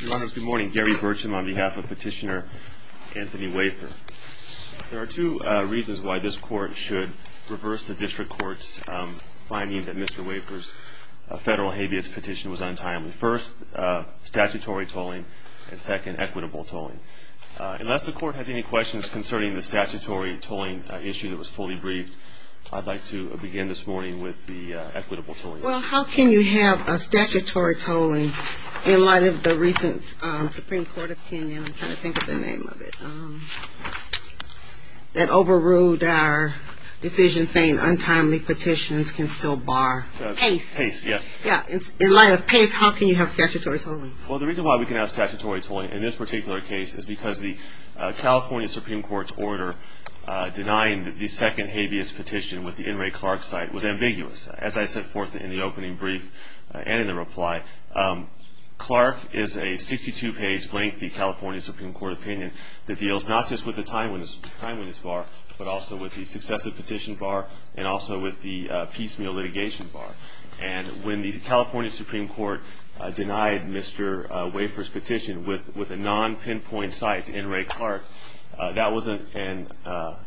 Good morning, Gary Burcham on behalf of Petitioner Anthony Wafer. There are two reasons why this Court should reverse the District Court's finding that Mr. Wafer's federal habeas petition was untimely. First, statutory tolling, and second, equitable tolling. Unless the Court has any questions concerning the statutory tolling issue that was fully briefed, I'd like to begin this morning with the equitable tolling. Well, how can you have a statutory tolling in light of the recent Supreme Court opinion, I'm trying to think of the name of it, that overruled our decision saying untimely petitions can still bar? Pace. Pace, yes. In light of Pace, how can you have statutory tolling? Well, the reason why we can have statutory tolling in this particular case is because the California Supreme Court's order denying the second habeas petition with the N. Ray Clark site was ambiguous. As I set forth in the opening brief and in the reply, Clark is a 62-page lengthy California Supreme Court opinion that deals not just with the timeliness bar, but also with the successive petition bar and also with the piecemeal litigation bar. And when the California Supreme Court denied Mr. Wafer's petition with a non-pinpoint site, N. Ray Clark, that was an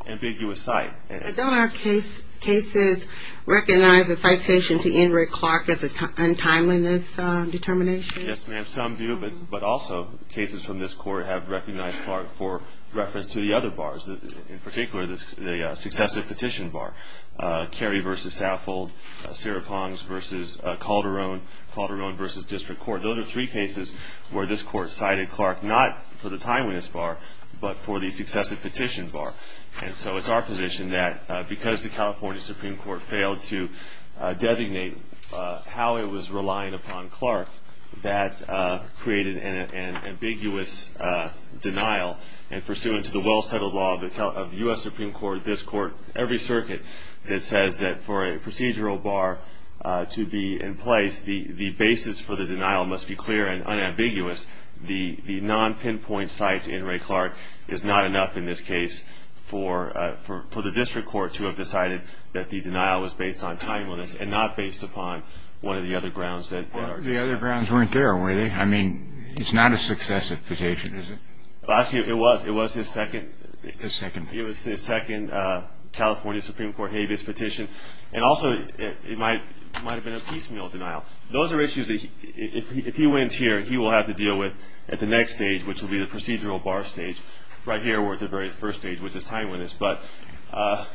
ambiguous site. Don't our cases recognize a citation to N. Ray Clark as a timeliness determination? Yes, ma'am. Some do, but also cases from this court have recognized Clark for reference to the other bars, in particular the successive petition bar, Carey v. Saffold, Sarah Ponds v. Calderon, Calderon v. District Court. Those are three cases where this court cited Clark not for the timeliness bar, but for the successive petition bar. And so it's our position that because the California Supreme Court failed to designate how it was relying upon Clark, that created an ambiguous denial, and pursuant to the well-settled law of the U.S. Supreme Court, this court, every circuit that says that for a procedural bar to be in place, the basis for the denial must be clear and unambiguous. The non-pinpoint site, N. Ray Clark, is not enough in this case for the District Court to have decided that the denial was based on timeliness and not based upon one of the other grounds that are discussed. The other grounds weren't there, were they? I mean, it's not a successive petition, is it? Well, actually, it was. It was his second California Supreme Court habeas petition, and also it might have been a piecemeal denial. Those are issues that if he wins here, he will have to deal with at the next stage, which will be the procedural bar stage. Right here, we're at the very first stage, which is timeliness. But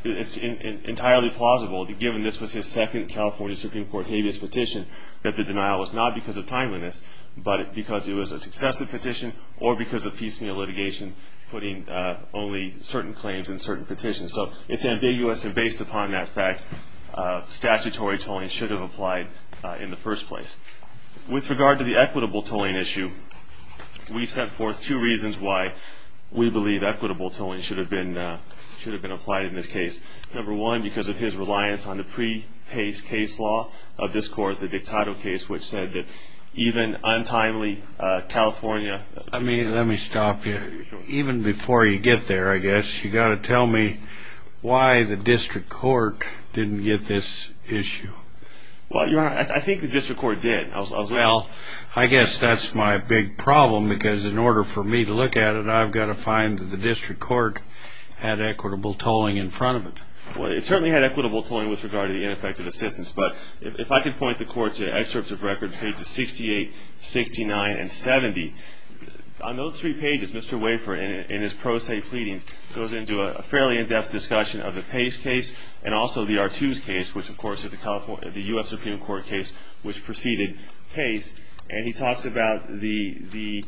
it's entirely plausible, given this was his second California Supreme Court habeas petition, that the denial was not because of timeliness, but because it was a successive petition, or because of piecemeal litigation putting only certain claims in certain petitions. So it's ambiguous, and based upon that fact, statutory tolling should have applied in the first place. With regard to the equitable tolling issue, we've set forth two reasons why we believe equitable tolling should have been applied in this case. Number one, because of his reliance on the pre-pace case law of this court, the Dictado case, which said that even untimely, California— Let me stop you. Even before you get there, I guess, you've got to tell me why the district court didn't get this issue. Well, Your Honor, I think the district court did. Well, I guess that's my big problem, because in order for me to look at it, I've got to find that the district court had equitable tolling in front of it. Well, it certainly had equitable tolling with regard to the ineffective assistance, but if I could point the court to excerpts of records, pages 68, 69, and 70, on those three pages, Mr. Wafer, in his pro se pleadings, goes into a fairly in-depth discussion of the Pace case and also the Artoos case, which, of course, is the U.S. Supreme Court case which preceded Pace, and he talks about the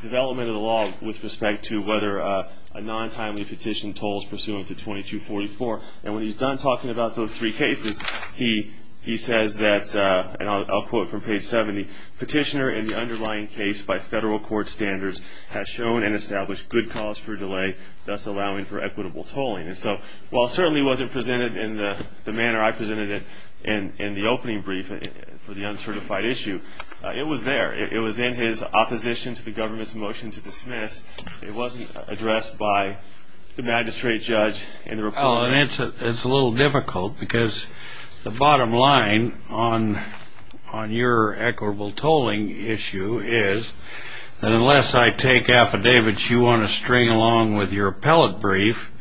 development of the law with respect to whether a non-timely petition tolls pursuant to 2244, and when he's done talking about those three cases, he says that, and I'll quote from page 70, petitioner in the underlying case by federal court standards has shown and established good cause for delay, thus allowing for equitable tolling. And so while it certainly wasn't presented in the manner I presented it in the opening brief for the uncertified issue, it was there. It was in his opposition to the government's motion to dismiss. It wasn't addressed by the magistrate judge in the report. Well, and it's a little difficult because the bottom line on your equitable tolling issue is that unless I take affidavits you want to string along with your appellate brief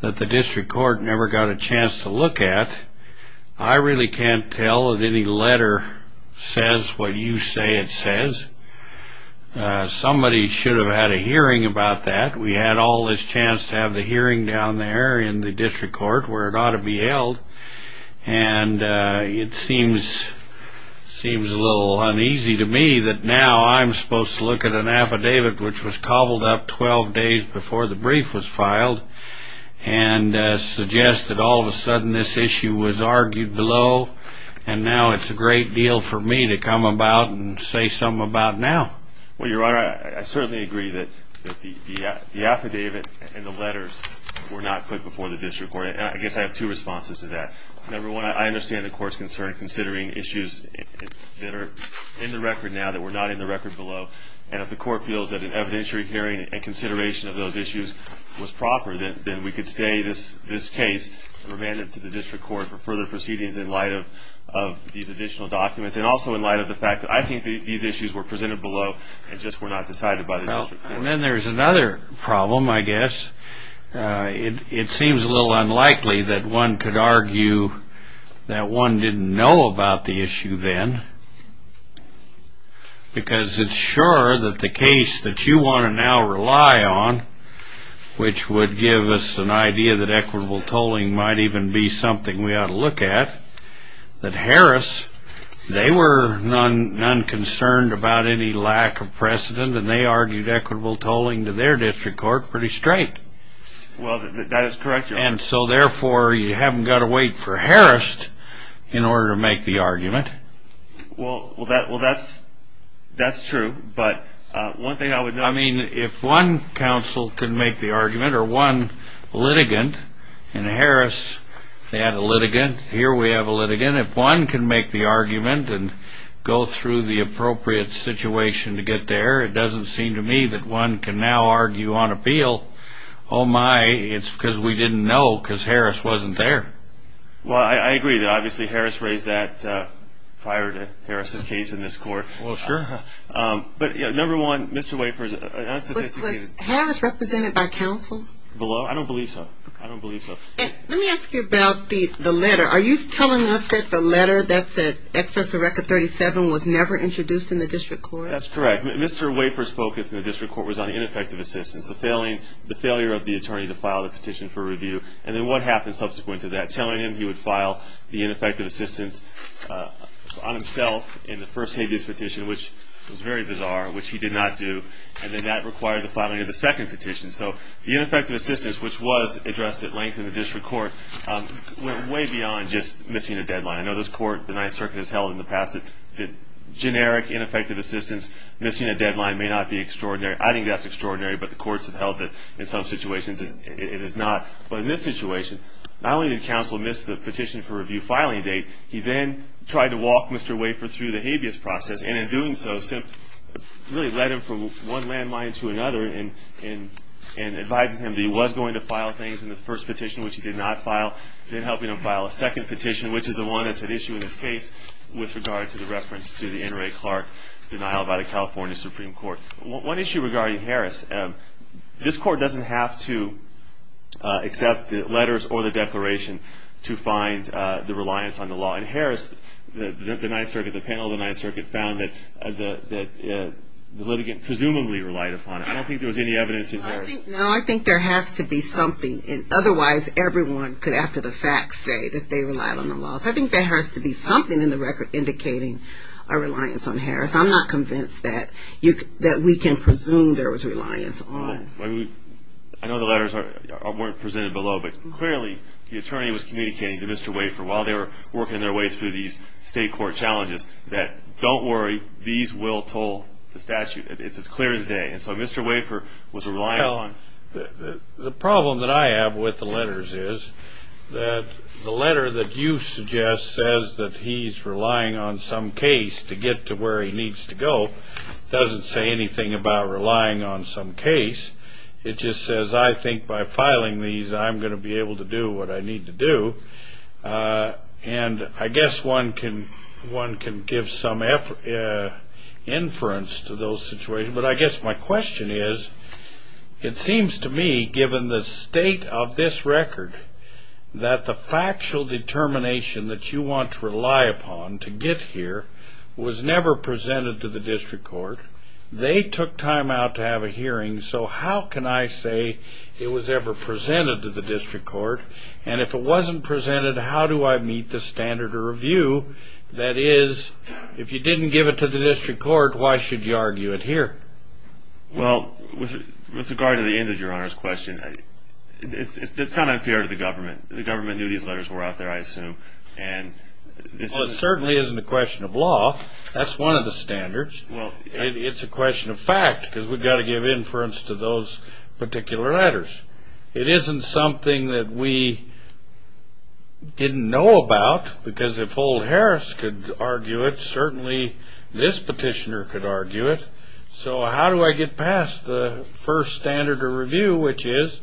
that the district court never got a chance to look at, I really can't tell that any letter says what you say it says. Somebody should have had a hearing about that. We had all this chance to have the hearing down there in the district court where it ought to be held, and it seems a little uneasy to me that now I'm supposed to look at an affidavit which was cobbled up 12 days before the brief was filed and suggest that all of a sudden this issue was argued below, and now it's a great deal for me to come about and say something about now. Well, Your Honor, I certainly agree that the affidavit and the letters were not put before the district court, and I guess I have two responses to that. Number one, I understand the court's concern considering issues that are in the record now that were not in the record below, and if the court feels that an evidentiary hearing and consideration of those issues was proper, then we could stay this case remanded to the district court for further proceedings in light of these additional documents and also in light of the fact that I think these issues were presented below and just were not decided by the district court. And then there's another problem, I guess. It seems a little unlikely that one could argue that one didn't know about the issue then because it's sure that the case that you want to now rely on, which would give us an idea that equitable tolling might even be something we ought to look at, that Harris, they were non-concerned about any lack of precedent, and they argued equitable tolling to their district court pretty straight. Well, that is correct, Your Honor. And so, therefore, you haven't got to wait for Harris in order to make the argument. Well, that's true, but one thing I would note... I mean, if one counsel could make the argument or one litigant, and Harris had a litigant, here we have a litigant. If one can make the argument and go through the appropriate situation to get there, it doesn't seem to me that one can now argue on appeal, oh, my, it's because we didn't know because Harris wasn't there. Well, I agree that, obviously, Harris raised that prior to Harris' case in this court. Well, sure. But, number one, Mr. Wafers, unsophisticated... Was Harris represented by counsel? Below? I don't believe so. I don't believe so. Let me ask you about the letter. Are you telling us that the letter that said, Excess of Record 37 was never introduced in the district court? That's correct. Mr. Wafers' focus in the district court was on ineffective assistance, the failure of the attorney to file the petition for review, and then what happened subsequent to that, telling him he would file the ineffective assistance on himself in the first habeas petition, which was very bizarre, which he did not do, and then that required the filing of the second petition. So the ineffective assistance, which was addressed at length in the district court, went way beyond just missing a deadline. I know this court, the Ninth Circuit has held in the past that generic, ineffective assistance, missing a deadline may not be extraordinary. I think that's extraordinary, but the courts have held that in some situations it is not. But in this situation, not only did counsel miss the petition for review filing date, he then tried to walk Mr. Wafers through the habeas process, and in doing so, really led him from one landmine to another in advising him that he was going to file things in the first petition, which he did not file, then helping him file a second petition, which is the one that's at issue in this case, with regard to the reference to the N. Ray Clark denial by the California Supreme Court. One issue regarding Harris, this court doesn't have to accept the letters or the declaration to find the reliance on the law. In Harris, the Ninth Circuit, the panel of the Ninth Circuit, found that the litigant presumably relied upon it. I don't think there was any evidence in Harris. No, I think there has to be something. Otherwise, everyone could, after the fact, say that they relied on the laws. I think there has to be something in the record indicating a reliance on Harris. I'm not convinced that we can presume there was reliance on. I know the letters weren't presented below, but clearly the attorney was communicating to Mr. Wafer, while they were working their way through these state court challenges, that don't worry, these will toll the statute. It's as clear as day. And so Mr. Wafer was relying on. The problem that I have with the letters is that the letter that you suggest says that he's relying on some case to get to where he needs to go doesn't say anything about relying on some case. It just says, I think by filing these, I'm going to be able to do what I need to do. And I guess one can give some inference to those situations. But I guess my question is, it seems to me, given the state of this record, that the factual determination that you want to rely upon to get here was never presented to the district court. They took time out to have a hearing. So how can I say it was ever presented to the district court? And if it wasn't presented, how do I meet the standard of review? That is, if you didn't give it to the district court, why should you argue it here? Well, with regard to the end of Your Honor's question, it's not unfair to the government. The government knew these letters were out there, I assume. Well, it certainly isn't a question of law. That's one of the standards. It's a question of fact, because we've got to give inference to those particular letters. It isn't something that we didn't know about, because if old Harris could argue it, certainly this petitioner could argue it. So how do I get past the first standard of review, which is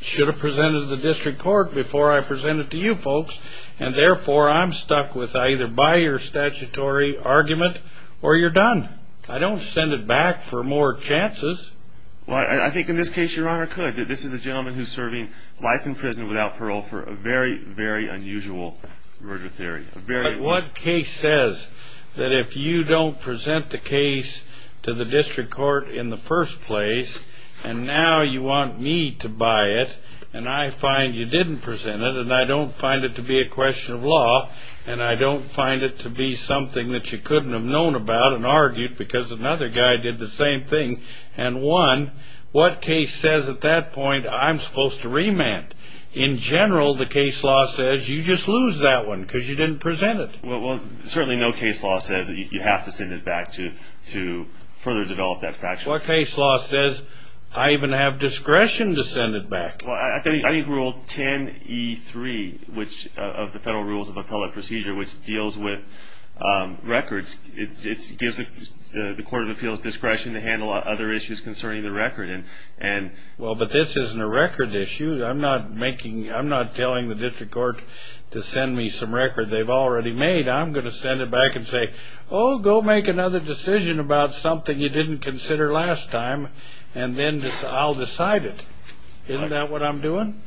should have presented to the district court before I presented to you folks, and therefore I'm stuck with I either buy your statutory argument or you're done. I don't send it back for more chances. Well, I think in this case Your Honor could. This is a gentleman who's serving life in prison without parole for a very, very unusual murder theory. But what case says that if you don't present the case to the district court in the first place, and now you want me to buy it, and I find you didn't present it, and I don't find it to be a question of law, and I don't find it to be something that you couldn't have known about and argued, because another guy did the same thing and won, what case says at that point I'm supposed to remand? In general, the case law says you just lose that one because you didn't present it. Well, certainly no case law says that you have to send it back to further develop that practice. What case law says I even have discretion to send it back? Well, I think Rule 10E3 of the Federal Rules of Appellate Procedure, which deals with records, it gives the court of appeals discretion to handle other issues concerning the record. Well, but this isn't a record issue. I'm not telling the district court to send me some record they've already made. I'm going to send it back and say, oh, go make another decision about something you didn't consider last time, and then I'll decide it. Isn't that what I'm doing?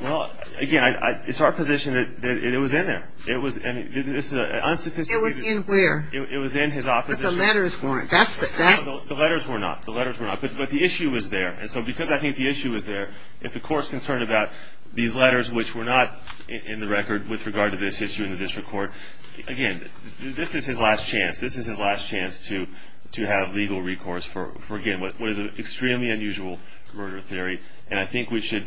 Well, again, it's our position that it was in there. It was in his opposition. It was in where? It was in his opposition. But the letters weren't. The letters were not. The letters were not. But the issue was there. And so because I think the issue was there, if the court's concerned about these letters which were not in the record with regard to this issue in the district court, again, this is his last chance. This is his last chance to have legal recourse for, again, what is an extremely unusual murder theory. And I think we should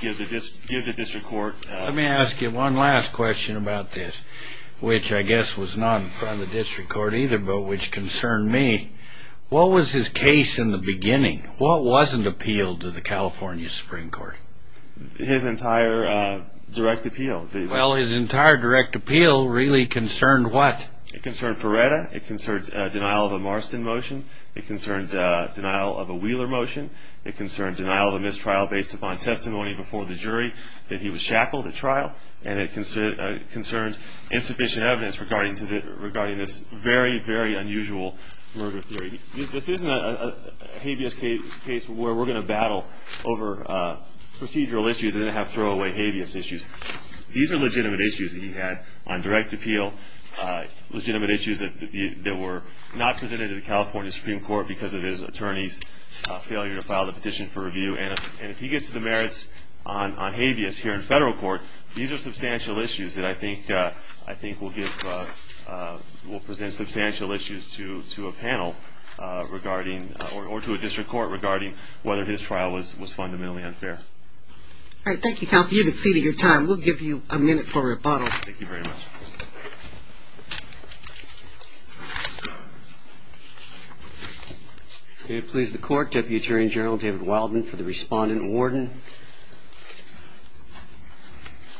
give the district court. Let me ask you one last question about this, which I guess was not in front of the district court either but which concerned me. What was his case in the beginning? What wasn't appealed to the California Supreme Court? His entire direct appeal. Well, his entire direct appeal really concerned what? It concerned Perretta. It concerned denial of a Marston motion. It concerned denial of a Wheeler motion. It concerned denial of a mistrial based upon testimony before the jury that he was shackled at trial. And it concerned insufficient evidence regarding this very, very unusual murder theory. This isn't a habeas case where we're going to battle over procedural issues and then have throwaway habeas issues. These are legitimate issues that he had on direct appeal. Legitimate issues that were not presented to the California Supreme Court because of his attorney's failure to file the petition for review. And if he gets to the merits on habeas here in federal court, these are substantial issues that I think will present substantial issues to a panel regarding or to a district court regarding whether his trial was fundamentally unfair. All right, thank you, counsel. You've exceeded your time. We'll give you a minute for rebuttal. Thank you very much. May it please the court, Deputy Attorney General David Wildman for the respondent awarding.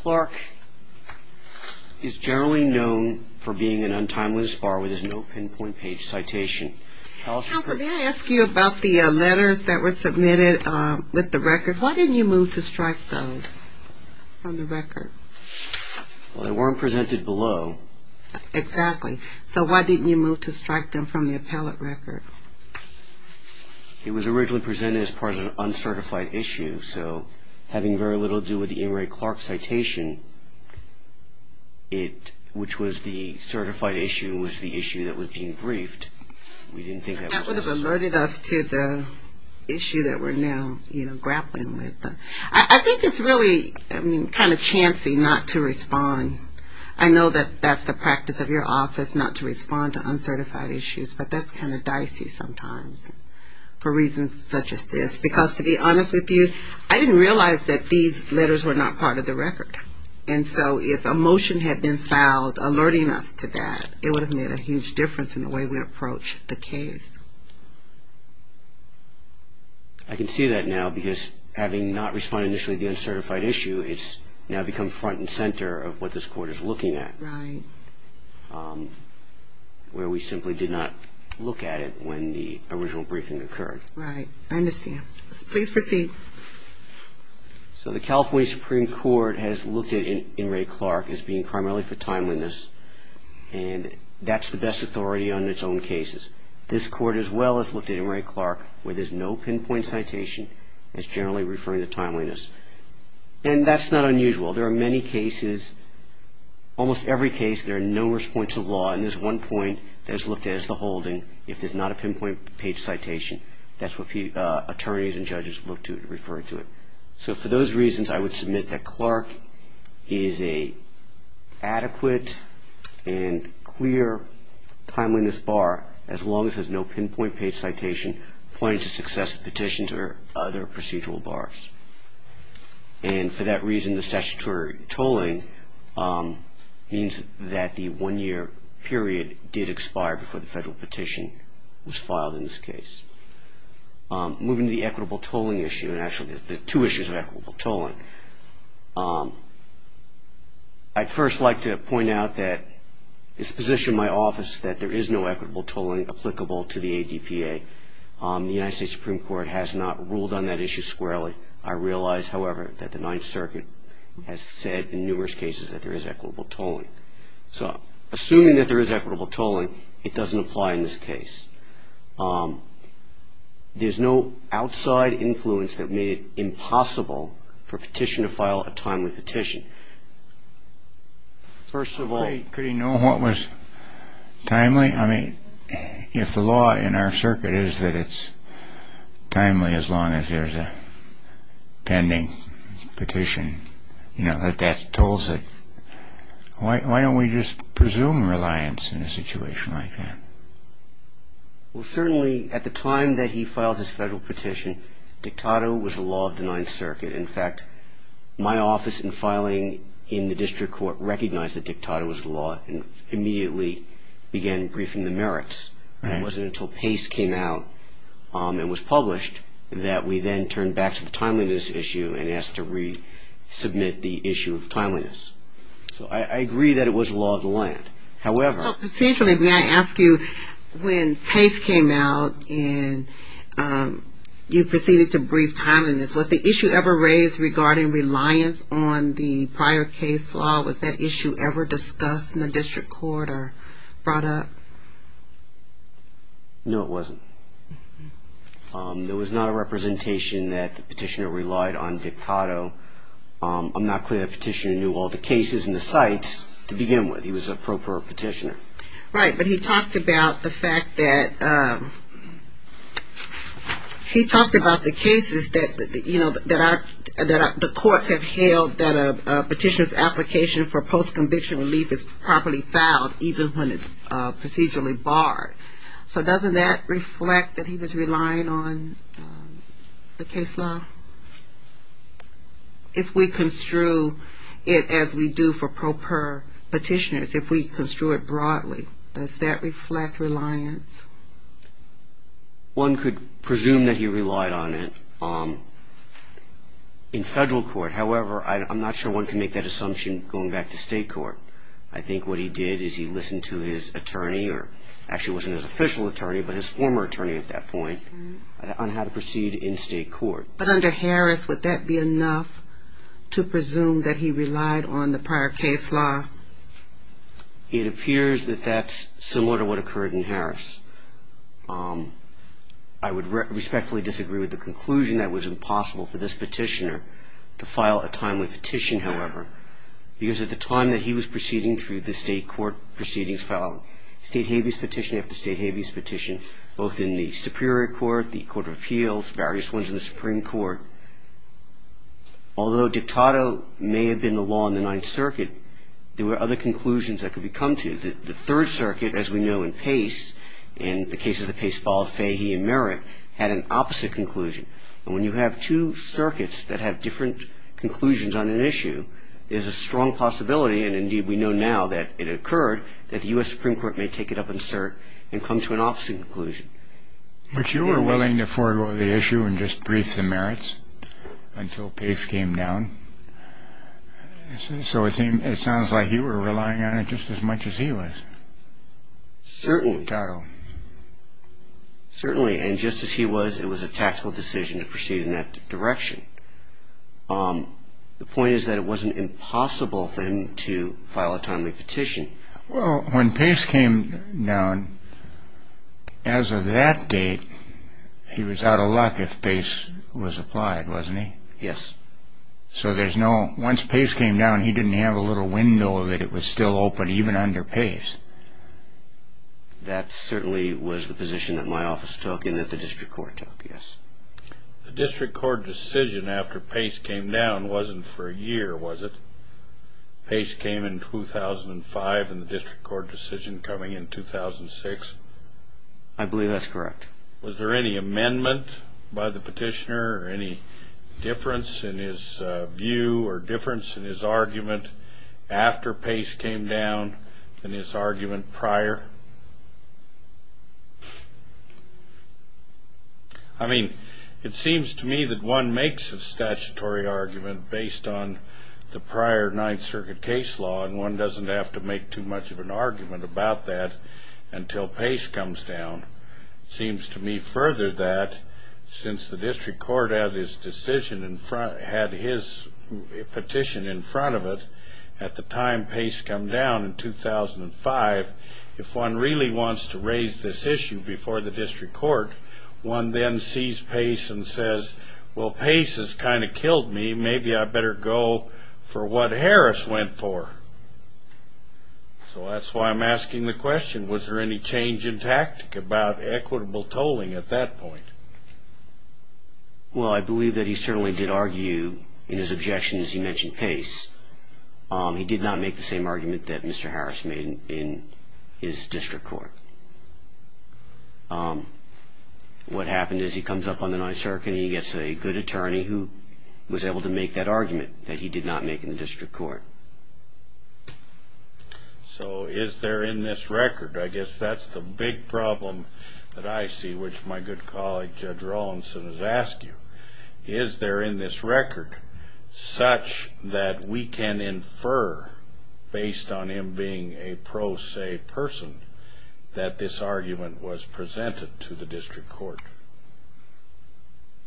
Clark is generally known for being an untimeless bar where there's no pinpoint page citation. Counsel, may I ask you about the letters that were submitted with the record? Why didn't you move to strike those on the record? Well, they weren't presented below. Exactly. So why didn't you move to strike them from the appellate record? It was originally presented as part of an uncertified issue. So having very little to do with the Ingray-Clark citation, which was the certified issue was the issue that was being briefed. That would have alerted us to the issue that we're now grappling with. I think it's really kind of chancy not to respond. I know that that's the practice of your office, not to respond to uncertified issues, but that's kind of dicey sometimes for reasons such as this. Because to be honest with you, I didn't realize that these letters were not part of the record. And so if a motion had been filed alerting us to that, it would have made a huge difference in the way we approach the case. I can see that now because having not responded initially to the uncertified issue, it's now become front and center of what this Court is looking at. Right. Where we simply did not look at it when the original briefing occurred. Right. I understand. Please proceed. So the California Supreme Court has looked at Ingray-Clark as being primarily for timeliness, and that's the best authority on its own cases. This Court, as well, has looked at Ingray-Clark where there's no pinpoint citation. It's generally referring to timeliness. And that's not unusual. There are many cases, almost every case, there are numerous points of law, and there's one point that is looked at as the holding if there's not a pinpoint page citation. That's what attorneys and judges look to refer to it. So for those reasons, I would submit that Clark is an adequate and clear timeliness bar, as long as there's no pinpoint page citation pointing to successive petitions or other procedural bars. And for that reason, the statutory tolling means that the one-year period did expire before the federal petition was filed in this case. Moving to the equitable tolling issue, and actually the two issues of equitable tolling, I'd first like to point out that it's positioned in my office that there is no equitable tolling applicable to the ADPA. The United States Supreme Court has not ruled on that issue squarely. I realize, however, that the Ninth Circuit has said in numerous cases that there is equitable tolling. So assuming that there is equitable tolling, it doesn't apply in this case. There's no outside influence that made it impossible for a petition to file a timely petition. First of all, could he know what was timely? I mean, if the law in our circuit is that it's timely as long as there's a pending petition, that that tolls it, why don't we just presume reliance in a situation like that? Well, certainly at the time that he filed his federal petition, dictato was the law of the Ninth Circuit. In fact, my office in filing in the district court recognized that dictato was the law and immediately began briefing the merits. It wasn't until Pace came out and was published that we then turned back to the timeliness issue and asked to resubmit the issue of timeliness. So I agree that it was law of the land. However... So potentially, may I ask you, when Pace came out and you proceeded to brief timeliness, was the issue ever raised regarding reliance on the prior case law? Was that issue ever discussed in the district court or brought up? No, it wasn't. There was not a representation that the petitioner relied on dictato. I'm not clear the petitioner knew all the cases and the sites to begin with. He was an appropriate petitioner. Right, but he talked about the fact that he talked about the cases that, you know, the courts have held that a petitioner's application for post-conviction relief is properly filed even when it's procedurally barred. So doesn't that reflect that he was relying on the case law? If we construe it as we do for pro per petitioners, if we construe it broadly, does that reflect reliance? One could presume that he relied on it in federal court. However, I'm not sure one can make that assumption going back to state court. I think what he did is he listened to his attorney or actually wasn't his official attorney but his former attorney at that point on how to proceed in state court. But under Harris, would that be enough to presume that he relied on the prior case law? It appears that that's similar to what occurred in Harris. I would respectfully disagree with the conclusion that it was impossible for this petitioner to file a timely petition, however, because at the time that he was proceeding through the state court proceedings filing, state habeas petition after state habeas petition, both in the Superior Court, the Court of Appeals, various ones in the Supreme Court. Although dictato may have been the law in the Ninth Circuit, there were other conclusions that could be come to. The Third Circuit, as we know in Pace, in the cases that Pace filed, Fahey and Merritt, had an opposite conclusion. And when you have two circuits that have different conclusions on an issue, there's a strong possibility, and indeed we know now that it occurred, that the U.S. Supreme Court may take it up in cert and come to an opposite conclusion. But you were willing to forego the issue and just brief the Merritts until Pace came down. So it sounds like you were relying on it just as much as he was. Certainly. Dictato. Certainly. And just as he was, it was a tactical decision to proceed in that direction. The point is that it wasn't impossible for him to file a timely petition. Well, when Pace came down, as of that date, he was out of luck if Pace was applied, wasn't he? Yes. So there's no, once Pace came down, he didn't have a little window that it was still open, even under Pace. That certainly was the position that my office took and that the district court took, yes. The district court decision after Pace came down wasn't for a year, was it? Pace came in 2005 and the district court decision coming in 2006? I believe that's correct. Was there any amendment by the petitioner or any difference in his view or difference in his argument after Pace came down than his argument prior? I mean, it seems to me that one makes a statutory argument based on the prior Ninth Circuit case law, and one doesn't have to make too much of an argument about that until Pace comes down. It seems to me further that since the district court had his petition in front of it at the time Pace came down in 2005, if one really wants to raise this issue before the district court, one then sees Pace and says, well, Pace has kind of killed me, maybe I better go for what Harris went for. So that's why I'm asking the question. Was there any change in tactic about equitable tolling at that point? Well, I believe that he certainly did argue in his objection as he mentioned Pace. He did not make the same argument that Mr. Harris made in his district court. What happened is he comes up on the Ninth Circuit and he gets a good attorney who was able to make that argument that he did not make in the district court. So is there in this record, I guess that's the big problem that I see, which my good colleague Judge Rawlinson has asked you, is there in this record such that we can infer based on him being a pro se person that this argument was presented to the district court?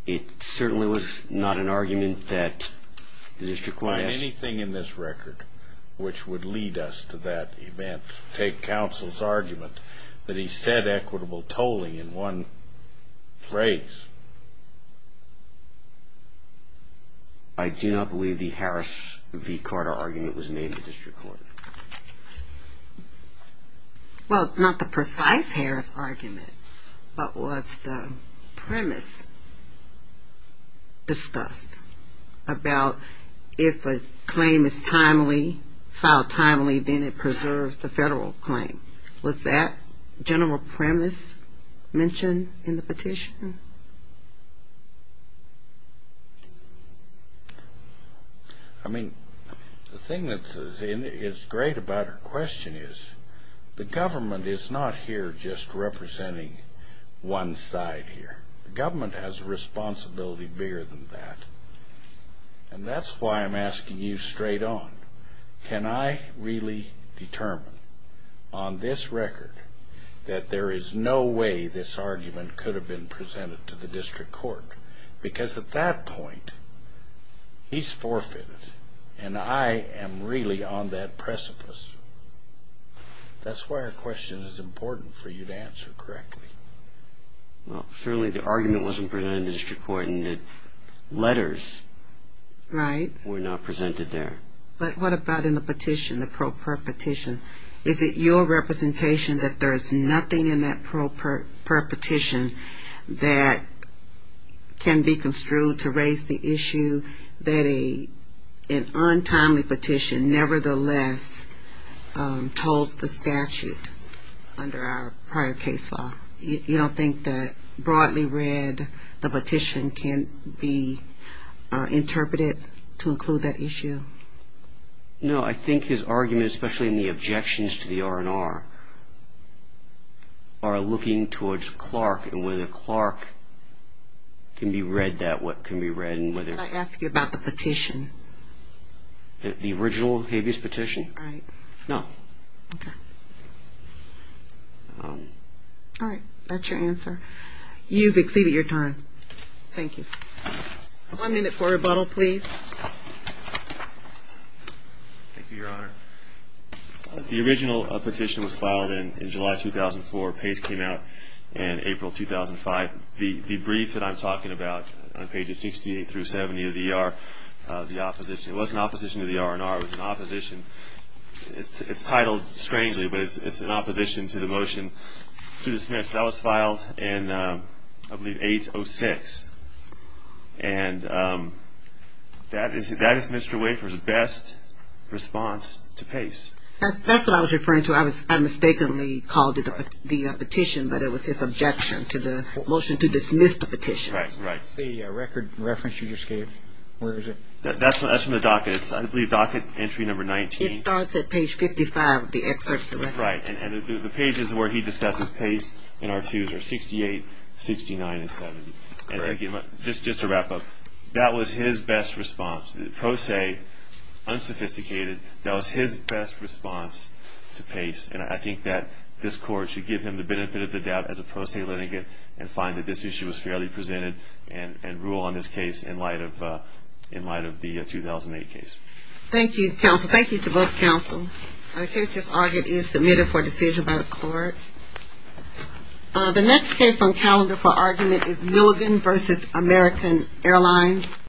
It certainly was not an argument that the district court has... Would anything in this record which would lead us to that event take counsel's argument that he said equitable tolling in one phrase? I do not believe the Harris v. Carter argument was made in the district court. Well, not the precise Harris argument, but was the premise discussed about if a claim is filed timely, then it preserves the federal claim. Was that general premise mentioned in the petition? No. I mean, the thing that is great about her question is the government is not here just representing one side here. The government has a responsibility bigger than that, and that's why I'm asking you straight on. Can I really determine on this record that there is no way this argument could have been presented to the district court? Because at that point, he's forfeited, and I am really on that precipice. That's why her question is important for you to answer correctly. Well, certainly the argument wasn't presented to the district court, and the letters were not presented there. But what about in the petition, the pro per petition? Is it your representation that there is nothing in that pro per petition that can be construed to raise the issue that an untimely petition nevertheless tolls the statute under our prior case law? You don't think that broadly read, the petition can be interpreted to include that issue? No, I think his argument, especially in the objections to the R&R, are looking towards Clark and whether Clark can be read that way. Can I ask you about the petition? The original habeas petition? Right. No. Okay. That's your answer? You've exceeded your time. Thank you. One minute for rebuttal, please. Thank you, Your Honor. The original petition was filed in July 2004. Pace came out in April 2005. The brief that I'm talking about on pages 68 through 70 of the opposition, it wasn't opposition to the R&R, it was an opposition. It's titled strangely, but it's in opposition to the motion to dismiss. That was filed in, I believe, 8-06, and that is Mr. Wafer's best response to Pace. That's what I was referring to. I mistakenly called it the petition, but it was his objection to the motion to dismiss the petition. Right, right. The record reference you just gave, where is it? That's from the docket. I believe it's docket entry number 19. It starts at page 55 of the excerpt. Right, and the pages where he discusses Pace and R2s are 68, 69, and 70. Just to wrap up, that was his best response. Pro se, unsophisticated, that was his best response to Pace, and I think that this Court should give him the benefit of the doubt as a pro se litigant and find that this issue was fairly presented and rule on this case in light of the 2008 case. Thank you, counsel. Thank you to both counsel. The case just argued is submitted for decision by the Court. The next case on calendar for argument is Milligan v. American Airlines.